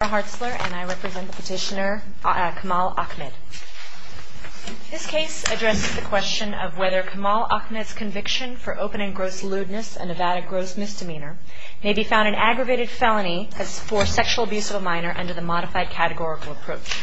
I'm Laura Hartzler and I represent the petitioner Kamal Ahmed. This case addresses the question of whether Kamal Ahmed's conviction for open and gross lewdness and avowed gross misdemeanor may be found an aggravated felony for sexual abuse of a minor under the modified categorical approach.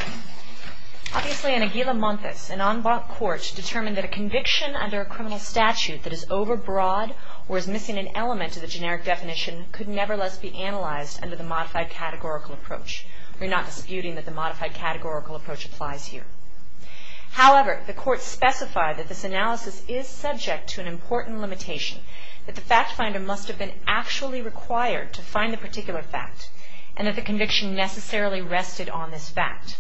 Obviously, in Aguila Montes, an en banc court determined that a conviction under a criminal statute that is overbroad or is missing an element of the generic definition could nevertheless be analyzed under the modified categorical approach. We're not disputing that the modified categorical approach applies here. However, the court specified that this analysis is subject to an important limitation, that the fact finder must have been actually required to find the particular fact and that the conviction necessarily rested on this fact.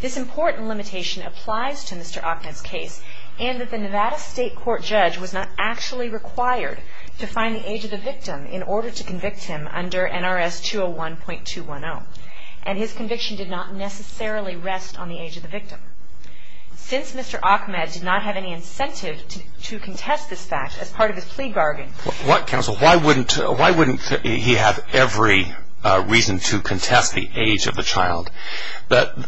This important limitation applies to Mr. Ahmed's case and that the Nevada State Court judge was not actually required to find the age of the victim in order to convict him under NRS 201.210. And his conviction did not necessarily rest on the age of the victim. Since Mr. Ahmed did not have any incentive to contest this fact as part of his plea bargain Why wouldn't he have every reason to contest the age of the child?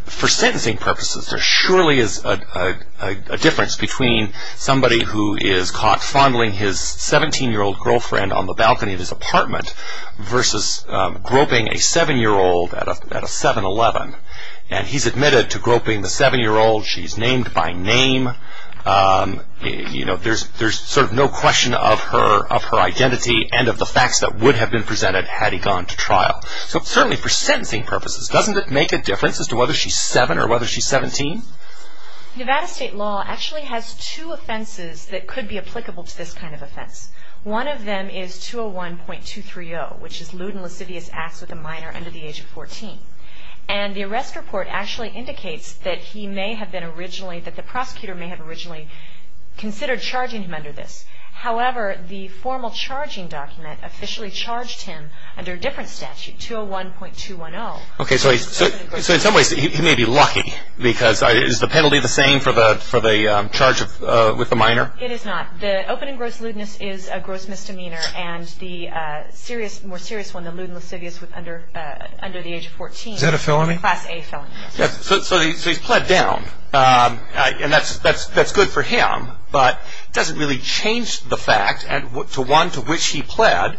For sentencing purposes, there surely is a difference between somebody who is caught fondling his 17-year-old girlfriend on the balcony of his apartment versus groping a 7-year-old at a 7-Eleven. And he's admitted to groping the 7-year-old. She's named by name. You know, there's sort of no question of her identity and of the facts that would have been presented had he gone to trial. So certainly for sentencing purposes, doesn't it make a difference as to whether she's 7 or whether she's 17? Nevada State law actually has two offenses that could be applicable to this kind of offense. One of them is 201.230, which is lewd and lascivious acts with a minor under the age of 14. And the arrest report actually indicates that the prosecutor may have originally considered charging him under this. However, the formal charging document officially charged him under a different statute, 201.210. Okay, so in some ways he may be lucky. Because is the penalty the same for the charge with the minor? It is not. The open and gross lewdness is a gross misdemeanor. And the more serious one, the lewd and lascivious under the age of 14. Is that a felony? Class A felony. So he's pled down. And that's good for him. But it doesn't really change the fact to one to which he pled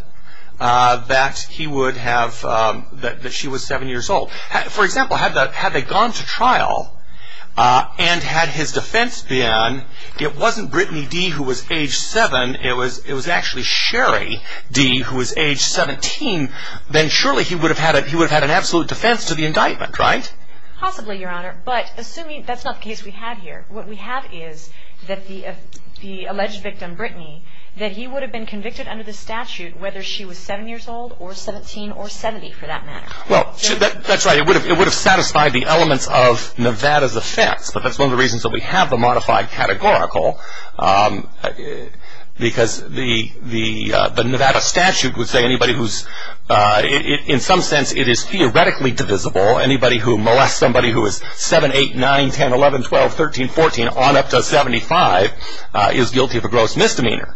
that she was 7 years old. For example, had they gone to trial and had his defense been, it wasn't Brittany D. who was age 7. It was actually Sherry D. who was age 17. Then surely he would have had an absolute defense to the indictment, right? Possibly, Your Honor. But assuming, that's not the case we have here. What we have is that the alleged victim, Brittany, that he would have been convicted under the statute whether she was 7 years old or 17 or 70 for that matter. That's right. It would have satisfied the elements of Nevada's offense. But that's one of the reasons that we have the modified categorical. Because the Nevada statute would say anybody who's, in some sense, it is theoretically divisible. Anybody who molests somebody who is 7, 8, 9, 10, 11, 12, 13, 14 on up to 75 is guilty of a gross misdemeanor.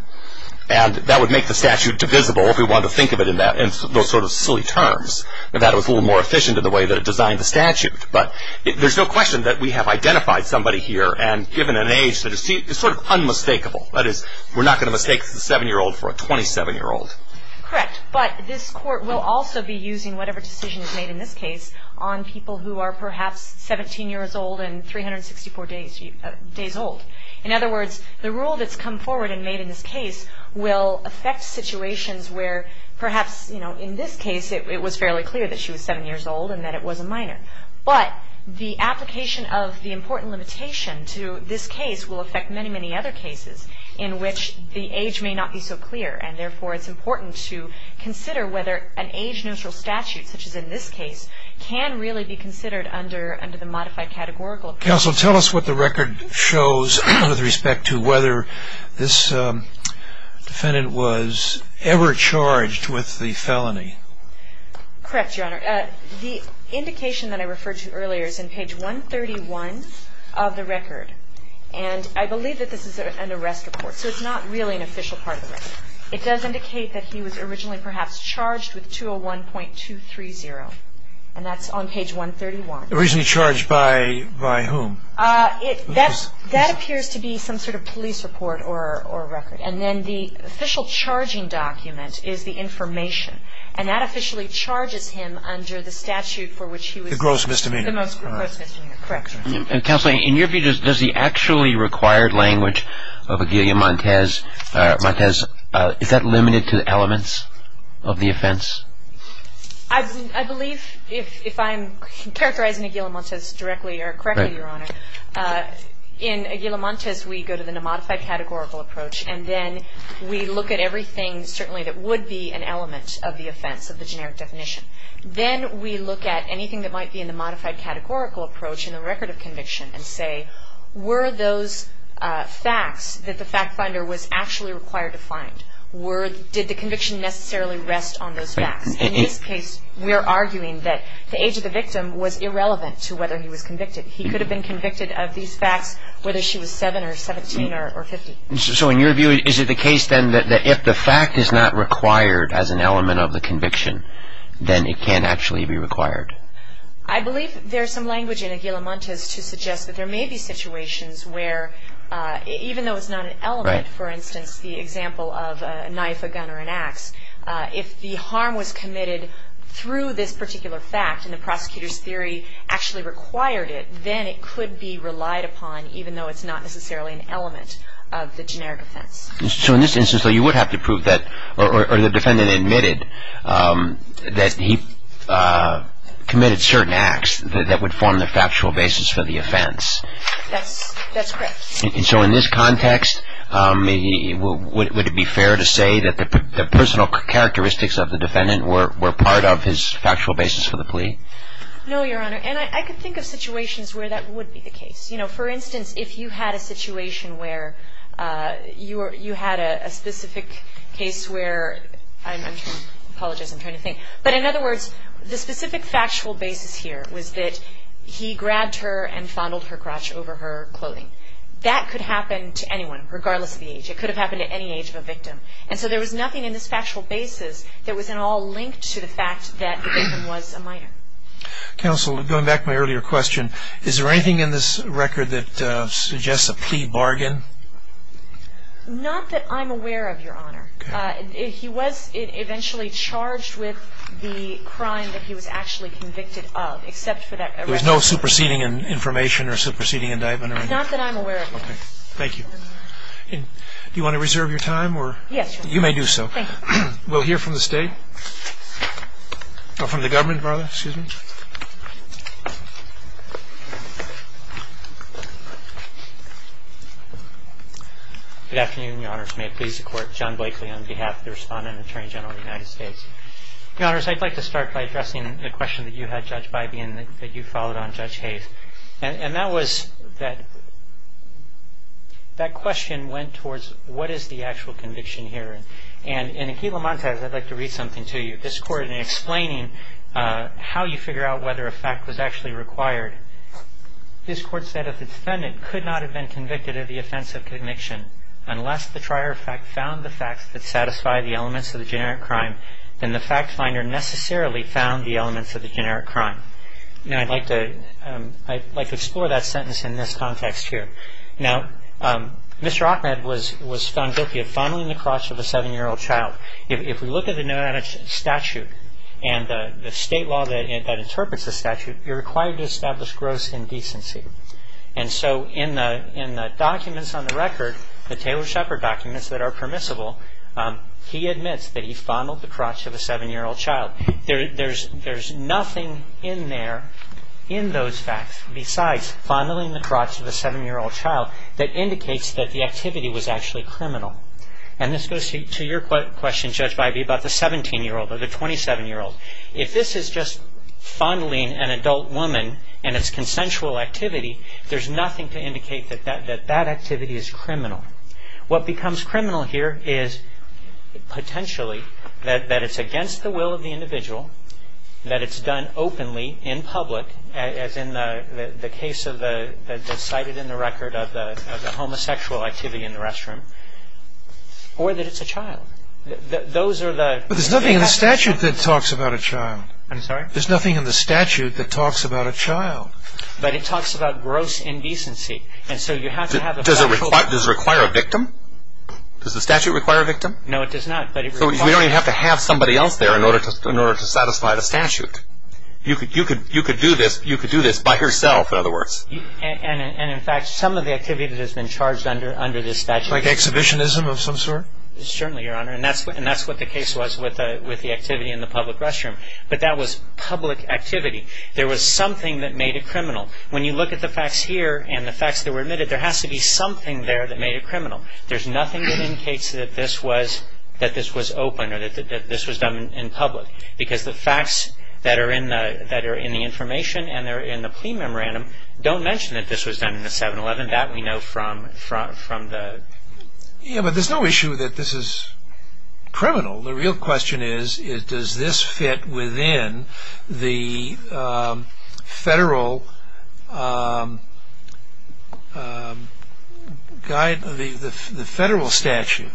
And that would make the statute divisible if we wanted to think of it in those sort of silly terms. Nevada was a little more efficient in the way that it designed the statute. But there's no question that we have identified somebody here and given an age that is sort of unmistakable. That is, we're not going to mistake the 7-year-old for a 27-year-old. Correct. But this court will also be using whatever decision is made in this case on people who are perhaps 17 years old and 364 days old. In other words, the rule that's come forward and made in this case will affect situations where perhaps, you know, in this case it was fairly clear that she was 7 years old and that it was a minor. But the application of the important limitation to this case will affect many, many other cases in which the age may not be so clear. And therefore, it's important to consider whether an age-neutral statute, such as in this case, can really be considered under the modified categorical. Counsel, tell us what the record shows with respect to whether this defendant was ever charged with the felony. Correct, Your Honor. The indication that I referred to earlier is in page 131 of the record. And I believe that this is an arrest report, so it's not really an official part of the record. It does indicate that he was originally perhaps charged with 201.230, and that's on page 131. Originally charged by whom? That appears to be some sort of police report or record. And then the official charging document is the information. And that officially charges him under the statute for which he was the most gross misdemeanor. The gross misdemeanor. Correct. Counsel, in your view, does the actually required language of Aguila Montes, Montes, is that limited to elements of the offense? I believe, if I'm characterizing Aguila Montes directly or correctly, Your Honor, in Aguila Montes we go to the modified categorical approach, and then we look at everything certainly that would be an element of the offense, of the generic definition. Then we look at anything that might be in the modified categorical approach in the record of conviction and say were those facts that the fact finder was actually required to find, did the conviction necessarily rest on those facts. In this case, we are arguing that the age of the victim was irrelevant to whether he was convicted. He could have been convicted of these facts whether she was 7 or 17 or 50. So in your view, is it the case then that if the fact is not required as an element of the conviction, then it can't actually be required? I believe there's some language in Aguila Montes to suggest that there may be situations where, even though it's not an element, for instance, the example of a knife, a gun, or an ax, if the harm was committed through this particular fact and the prosecutor's theory actually required it, then it could be relied upon even though it's not necessarily an element of the generic offense. So in this instance, you would have to prove that, or the defendant admitted that he committed certain acts that would form the factual basis for the offense. That's correct. So in this context, would it be fair to say that the personal characteristics of the defendant were part of his factual basis for the plea? No, Your Honor. And I can think of situations where that would be the case. You know, for instance, if you had a situation where you had a specific case where – I apologize, I'm trying to think. But in other words, the specific factual basis here was that he grabbed her and fondled her crotch over her clothing. That could happen to anyone regardless of the age. It could have happened at any age of a victim. And so there was nothing in this factual basis that was at all linked to the fact that the victim was a minor. Counsel, going back to my earlier question, is there anything in this record that suggests a plea bargain? Not that I'm aware of, Your Honor. Okay. He was eventually charged with the crime that he was actually convicted of, except for that – There was no superseding information or superseding indictment or anything? Not that I'm aware of, Your Honor. Okay. Thank you. And do you want to reserve your time or – Yes, Your Honor. You may do so. Thank you. We'll hear from the State – or from the Government, rather. Excuse me. Good afternoon, Your Honors. May it please the Court. John Blakely on behalf of the Respondent and Attorney General of the United States. Your Honors, I'd like to start by addressing the question that you had, Judge Bybee, and that you followed on, Judge Hayes. And that was that – that question went towards what is the actual conviction here? And in Aquila Montes, I'd like to read something to you. This Court, in explaining how you figure out whether a fact was actually required, this Court said, If the defendant could not have been convicted of the offense of conviction unless the trier of fact found the facts that satisfy the elements of the generic crime, then the fact finder necessarily found the elements of the generic crime. Now, I'd like to – I'd like to explore that sentence in this context here. Now, Mr. Achmed was found guilty of fondling the crotch of a 7-year-old child. If we look at the nonentity statute and the state law that interprets the statute, you're required to establish gross indecency. And so in the documents on the record, the Taylor-Shepard documents that are permissible, he admits that he fondled the crotch of a 7-year-old child. There's nothing in there, in those facts, besides fondling the crotch of a 7-year-old child that indicates that the activity was actually criminal. And this goes to your question, Judge Bybee, about the 17-year-old or the 27-year-old. If this is just fondling an adult woman and it's consensual activity, there's nothing to indicate that that activity is criminal. What becomes criminal here is potentially that it's against the will of the individual, that it's done openly in public, as in the case of the – cited in the record of the homosexual activity in the restroom, or that it's a child. Those are the – But there's nothing in the statute that talks about a child. I'm sorry? There's nothing in the statute that talks about a child. But it talks about gross indecency. Does it require a victim? Does the statute require a victim? No, it does not. So we don't even have to have somebody else there in order to satisfy the statute. You could do this by yourself, in other words. And, in fact, some of the activity that has been charged under this statute – Like exhibitionism of some sort? Certainly, Your Honor. And that's what the case was with the activity in the public restroom. But that was public activity. There was something that made it criminal. When you look at the facts here and the facts that were admitted, there has to be something there that made it criminal. There's nothing that indicates that this was open or that this was done in public, because the facts that are in the information and that are in the plea memorandum don't mention that this was done in the 7-Eleven. That we know from the – Yeah, but there's no issue that this is criminal. The real question is, does this fit within the federal statute?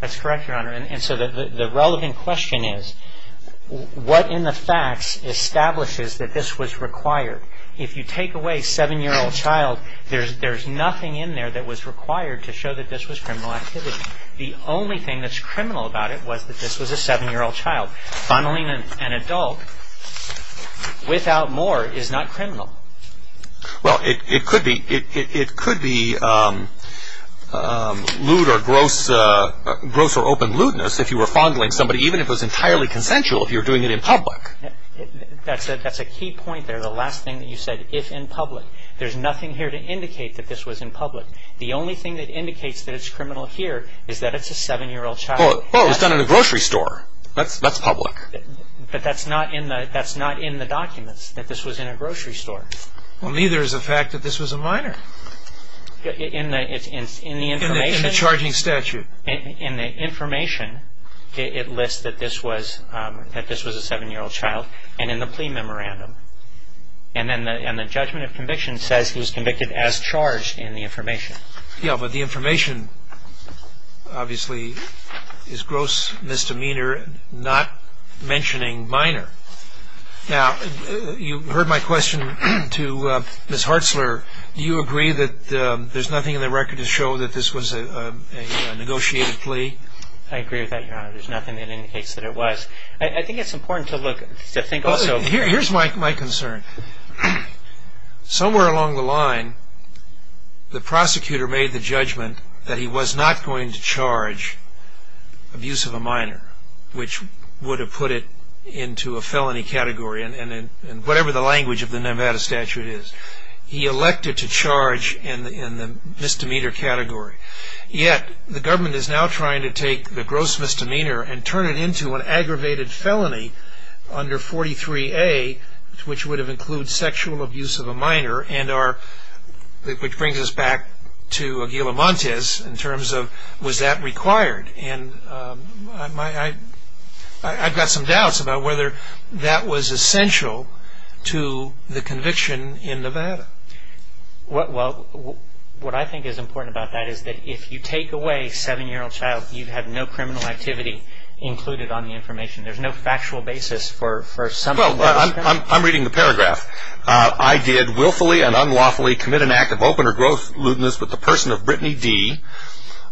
That's correct, Your Honor. And so the relevant question is, what in the facts establishes that this was required? If you take away a 7-year-old child, there's nothing in there that was required to show that this was criminal activity. The only thing that's criminal about it was that this was a 7-year-old child. Funneling an adult without more is not criminal. Well, it could be lewd or gross or open lewdness if you were funneling somebody, even if it was entirely consensual, if you were doing it in public. That's a key point there, the last thing that you said, if in public. There's nothing here to indicate that this was in public. The only thing that indicates that it's criminal here is that it's a 7-year-old child. Well, it was done in a grocery store. That's public. But that's not in the documents, that this was in a grocery store. Well, neither is the fact that this was a minor. In the information. In the charging statute. In the information, it lists that this was a 7-year-old child, and in the plea memorandum. And then the judgment of conviction says he was convicted as charged in the information. Yeah, but the information, obviously, is gross misdemeanor, not mentioning minor. Now, you heard my question to Ms. Hartzler. Do you agree that there's nothing in the record to show that this was a negotiated plea? I agree with that, Your Honor. There's nothing that indicates that it was. I think it's important to look, to think also. Here's my concern. Somewhere along the line, the prosecutor made the judgment that he was not going to charge abuse of a minor, which would have put it into a felony category, in whatever the language of the Nevada statute is. He elected to charge in the misdemeanor category. Yet, the government is now trying to take the gross misdemeanor and turn it into an aggravated felony under 43A, which would have included sexual abuse of a minor. Which brings us back to Aguila Montes, in terms of, was that required? And I've got some doubts about whether that was essential to the conviction in Nevada. Well, what I think is important about that is that if you take away a seven-year-old child, you have no criminal activity included on the information. There's no factual basis for something that was done. Well, I'm reading the paragraph. I did willfully and unlawfully commit an act of open or gross lewdness with the person of Brittany D.,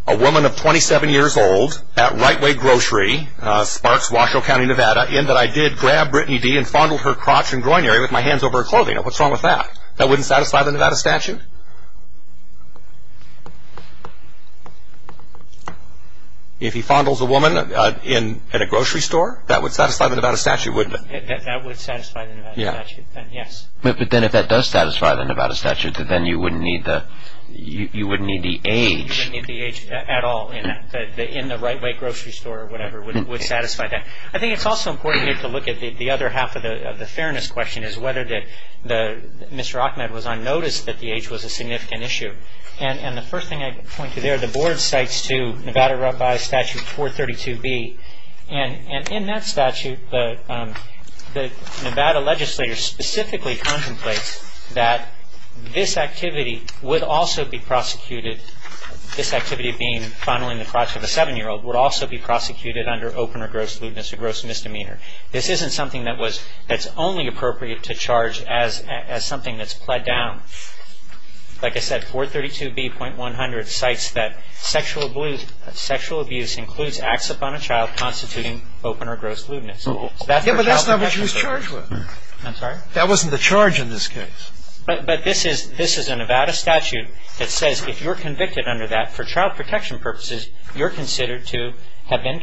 a woman of 27 years old, at Rightway Grocery, Sparks, Washoe County, Nevada, in that I did grab Brittany D. and fondled her crotch and groin area with my hands over her clothing. What's wrong with that? That wouldn't satisfy the Nevada statute? If he fondles a woman in a grocery store, that would satisfy the Nevada statute, wouldn't it? That would satisfy the Nevada statute, yes. But then if that does satisfy the Nevada statute, then you wouldn't need the age. You wouldn't need the age at all in the Rightway Grocery store or whatever would satisfy that. I think it's also important here to look at the other half of the fairness question, is whether Mr. Achmed was unnoticed that the age was a significant issue. And the first thing I point to there, the Board cites to Nevada by statute 432B, and in that statute the Nevada legislator specifically contemplates that this activity would also be prosecuted, this activity being fondling the crotch of a seven-year-old, would also be prosecuted under open or gross lewdness or gross misdemeanor. This isn't something that's only appropriate to charge as something that's pled down. Like I said, 432B.100 cites that sexual abuse includes acts upon a child constituting open or gross lewdness. But that's not what she was charged with. I'm sorry? That wasn't the charge in this case. But this is a Nevada statute that says if you're convicted under that, for child protection purposes, you're considered to have been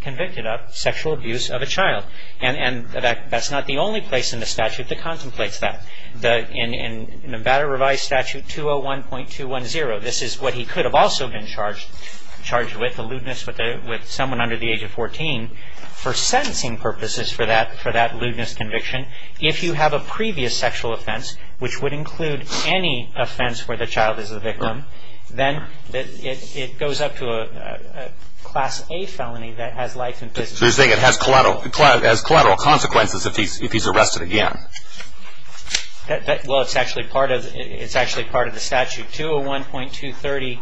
convicted of sexual abuse of a child. And that's not the only place in the statute that contemplates that. In Nevada revised statute 201.210, this is what he could have also been charged with, a lewdness with someone under the age of 14, for sentencing purposes for that lewdness conviction. If you have a previous sexual offense, which would include any offense where the child is the victim, then it goes up to a Class A felony that has life imprisonment. They're saying it has collateral consequences if he's arrested again. Well, it's actually part of the statute, 201.230,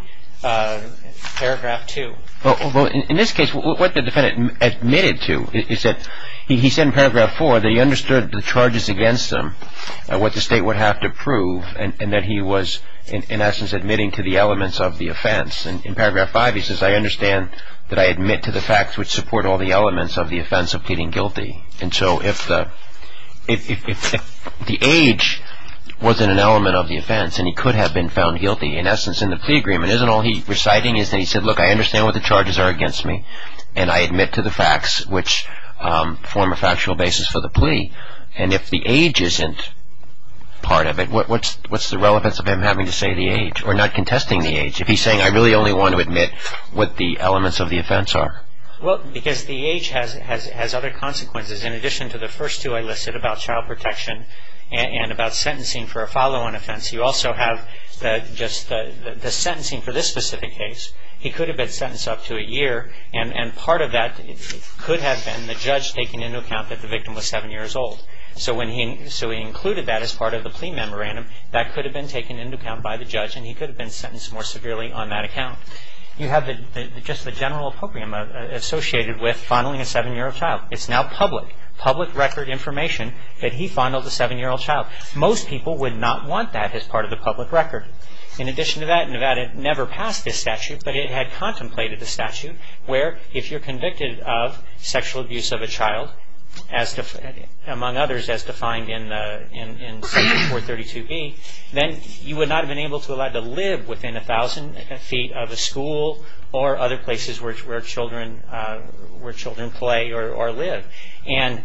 paragraph 2. Well, in this case, what the defendant admitted to is that he said in paragraph 4 that he understood the charges against him, what the state would have to prove, and that he was, in essence, admitting to the elements of the offense. In paragraph 5, he says, I understand that I admit to the facts which support all the elements of the offense of pleading guilty. And so if the age wasn't an element of the offense and he could have been found guilty, in essence, in the plea agreement, isn't all he's reciting is that he said, look, I understand what the charges are against me, and I admit to the facts which form a factual basis for the plea. And if the age isn't part of it, what's the relevance of him having to say the age or not contesting the age? If he's saying, I really only want to admit what the elements of the offense are? Well, because the age has other consequences in addition to the first two I listed about child protection and about sentencing for a follow-on offense. You also have just the sentencing for this specific case. He could have been sentenced up to a year, and part of that could have been the judge taking into account that the victim was seven years old. So he included that as part of the plea memorandum. That could have been taken into account by the judge, and he could have been sentenced more severely on that account. You have just the general appropriate associated with fondling a seven-year-old child. It's now public, public record information that he fondled a seven-year-old child. Most people would not want that as part of the public record. In addition to that, Nevada never passed this statute, but it had contemplated the statute where if you're convicted of sexual abuse of a child, among others, as defined in section 432B, then you would not have been able to live within a thousand feet of a school or other places where children play or live. And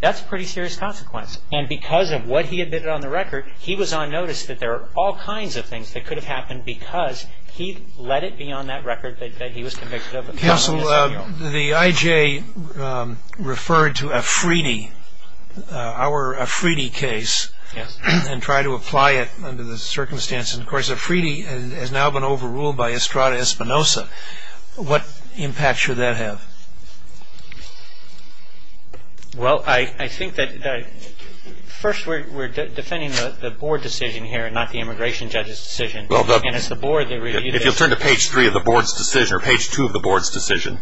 that's a pretty serious consequence. And because of what he admitted on the record, he was on notice that there are all kinds of things that could have happened because he let it be on that record that he was convicted of fondling a seven-year-old. Counsel, the IJ referred to a Fridi, our Fridi case, and tried to apply it under the circumstances. Of course, a Fridi has now been overruled by Estrada Espinosa. What impact should that have? Well, I think that first we're defending the board decision here and not the immigration judge's decision. If you'll turn to page 3 of the board's decision or page 2 of the board's decision.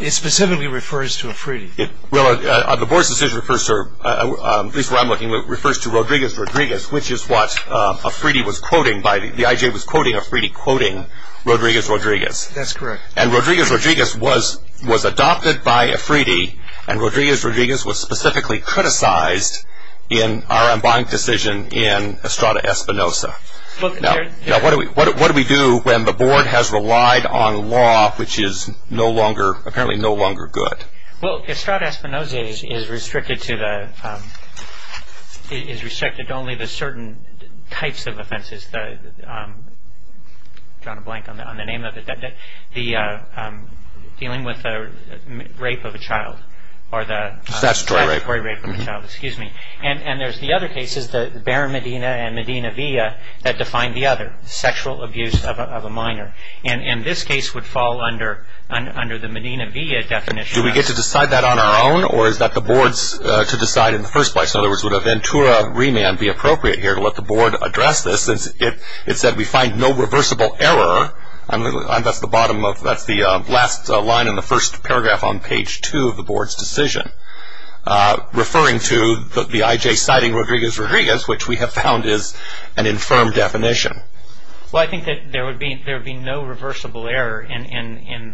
It specifically refers to a Fridi. Well, the board's decision refers to, at least where I'm looking, refers to Rodriguez-Rodriguez, which is what a Fridi was quoting, the IJ was quoting a Fridi quoting Rodriguez-Rodriguez. That's correct. And Rodriguez-Rodriguez was adopted by a Fridi, and Rodriguez-Rodriguez was specifically criticized in our unbinding decision in Estrada Espinosa. Now, what do we do when the board has relied on law, which is no longer, apparently no longer good? Well, Estrada Espinosa is restricted to only the certain types of offenses, I've drawn a blank on the name of it, dealing with the rape of a child or the mandatory rape of a child, excuse me. And there's the other cases, the Berra-Medina and Medina-Villa that define the other, sexual abuse of a minor. And this case would fall under the Medina-Villa definition. Do we get to decide that on our own or is that the board's to decide in the first place? In other words, would a Ventura remand be appropriate here to let the board address this? It said we find no reversible error, and that's the bottom of, that's the last line in the first paragraph on page two of the board's decision, referring to the IJ citing Rodriguez-Rodriguez, which we have found is an infirm definition. Well, I think that there would be no reversible error in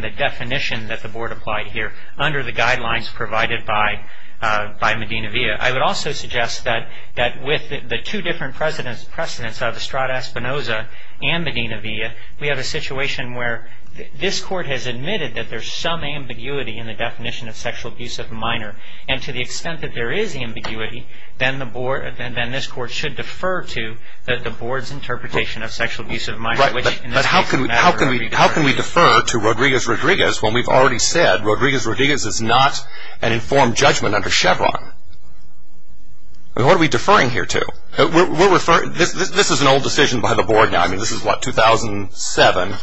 the definition that the board applied here, under the guidelines provided by Medina-Villa. I would also suggest that with the two different precedents of Estrada-Espinosa and Medina-Villa, we have a situation where this court has admitted that there's some ambiguity in the definition of sexual abuse of a minor. And to the extent that there is ambiguity, then this court should defer to the board's interpretation of sexual abuse of a minor. That's right, but how can we defer to Rodriguez-Rodriguez when we've already said Rodriguez-Rodriguez is not an informed judgment under Chevron? What are we deferring here to? This is an old decision by the board now. I mean, this is, what, 2007,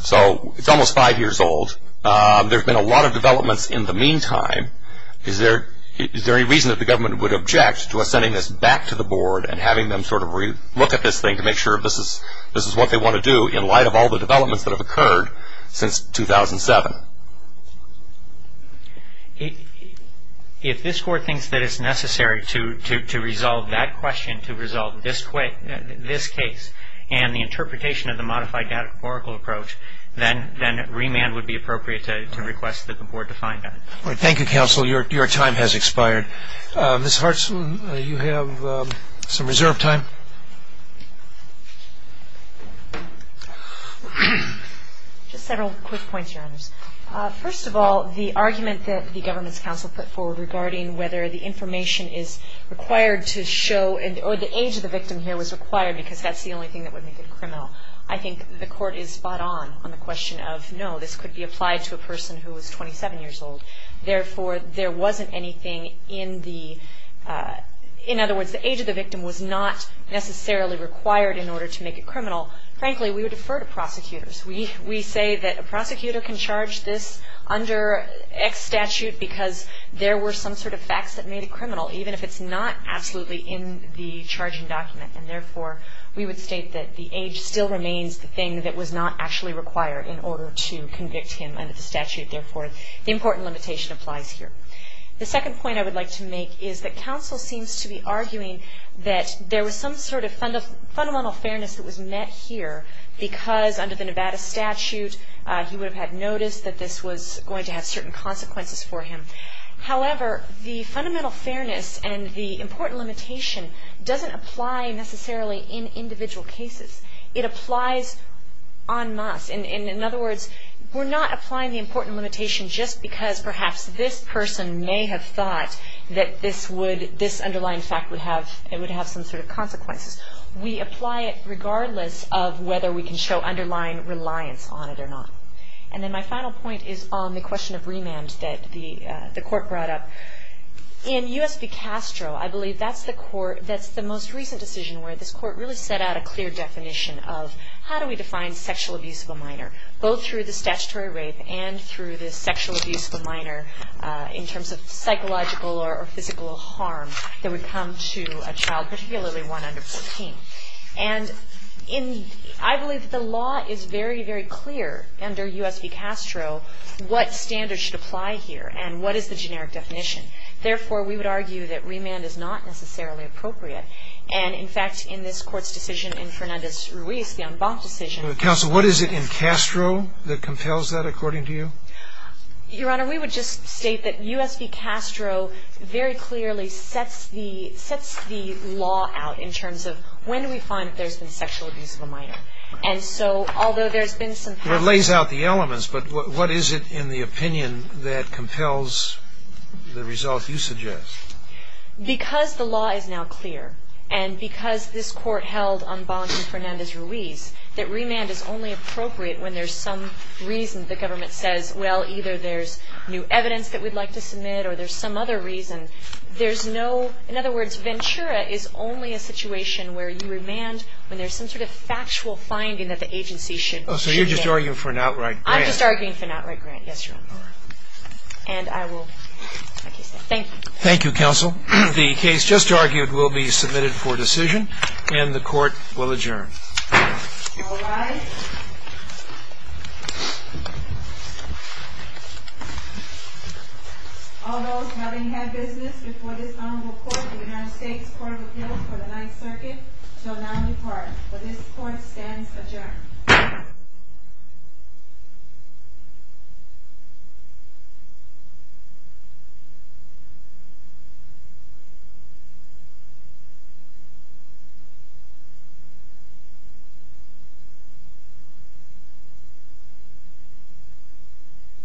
so it's almost five years old. There have been a lot of developments in the meantime. Is there any reason that the government would object to us sending this back to the board and having them sort of look at this thing to make sure that this is what they want to do in light of all the developments that have occurred since 2007? If this court thinks that it's necessary to resolve that question, to resolve this case, and the interpretation of the modified datacorporal approach, then remand would be appropriate to request that the board define that. Thank you, counsel. Your time has expired. Ms. Hartson, you have some reserve time. Just several quick points, Your Honors. First of all, the argument that the government's counsel put forward regarding whether the information is required to show, or the age of the victim here was required because that's the only thing that would make it criminal. I think the court is spot on on the question of, no, this could be applied to a person who is 27 years old. Therefore, there wasn't anything in the, in other words, the age of the victim was not necessarily required in order to make it criminal. Frankly, we would defer to prosecutors. We say that a prosecutor can charge this under X statute because there were some sort of facts that made it criminal, even if it's not absolutely in the charging document. And therefore, we would state that the age still remains the thing that was not actually required in order to convict him under the statute. Therefore, the important limitation applies here. The second point I would like to make is that counsel seems to be arguing that there was some sort of fundamental fairness that was met here because under the Nevada statute he would have had noticed that this was going to have certain consequences for him. However, the fundamental fairness and the important limitation doesn't apply necessarily in individual cases. It applies en masse. In other words, we're not applying the important limitation just because perhaps this person may have thought that this would, this underlying fact would have some sort of consequences. We apply it regardless of whether we can show underlying reliance on it or not. And then my final point is on the question of remand that the court brought up. In U.S. v. Castro, I believe that's the court, that's the most recent decision where this court really set out a clear definition of how do we define sexual abuse of a minor, both through the statutory rape and through the sexual abuse of a minor in terms of psychological or physical harm that would come to a child, particularly one under 14. And I believe that the law is very, very clear under U.S. v. Castro what standards should apply here and what is the generic definition. Therefore, we would argue that remand is not necessarily appropriate. And, in fact, in this court's decision in Fernandez-Ruiz, the en banc decision. Counsel, what is it in Castro that compels that, according to you? Your Honor, we would just state that U.S. v. Castro very clearly sets the law out in terms of when do we find that there's been sexual abuse of a minor. And so, although there's been some... Well, it lays out the elements, but what is it in the opinion that compels the result you suggest? Because the law is now clear and because this court held en banc in Fernandez-Ruiz that remand is only appropriate when there's some reason the government says, well, either there's new evidence that we'd like to submit or there's some other reason. There's no... In other words, Ventura is only a situation where you remand when there's some sort of factual finding that the agency should... Oh, so you're just arguing for an outright grant. I'm just arguing for an outright grant, yes, Your Honor. And I will... Thank you. Thank you, counsel. The case just argued will be submitted for decision and the court will adjourn. All rise. All those having had business before this honorable court in the United States Court of Appeals for the Ninth Circuit shall now depart. For this court stands adjourned. The court is adjourned.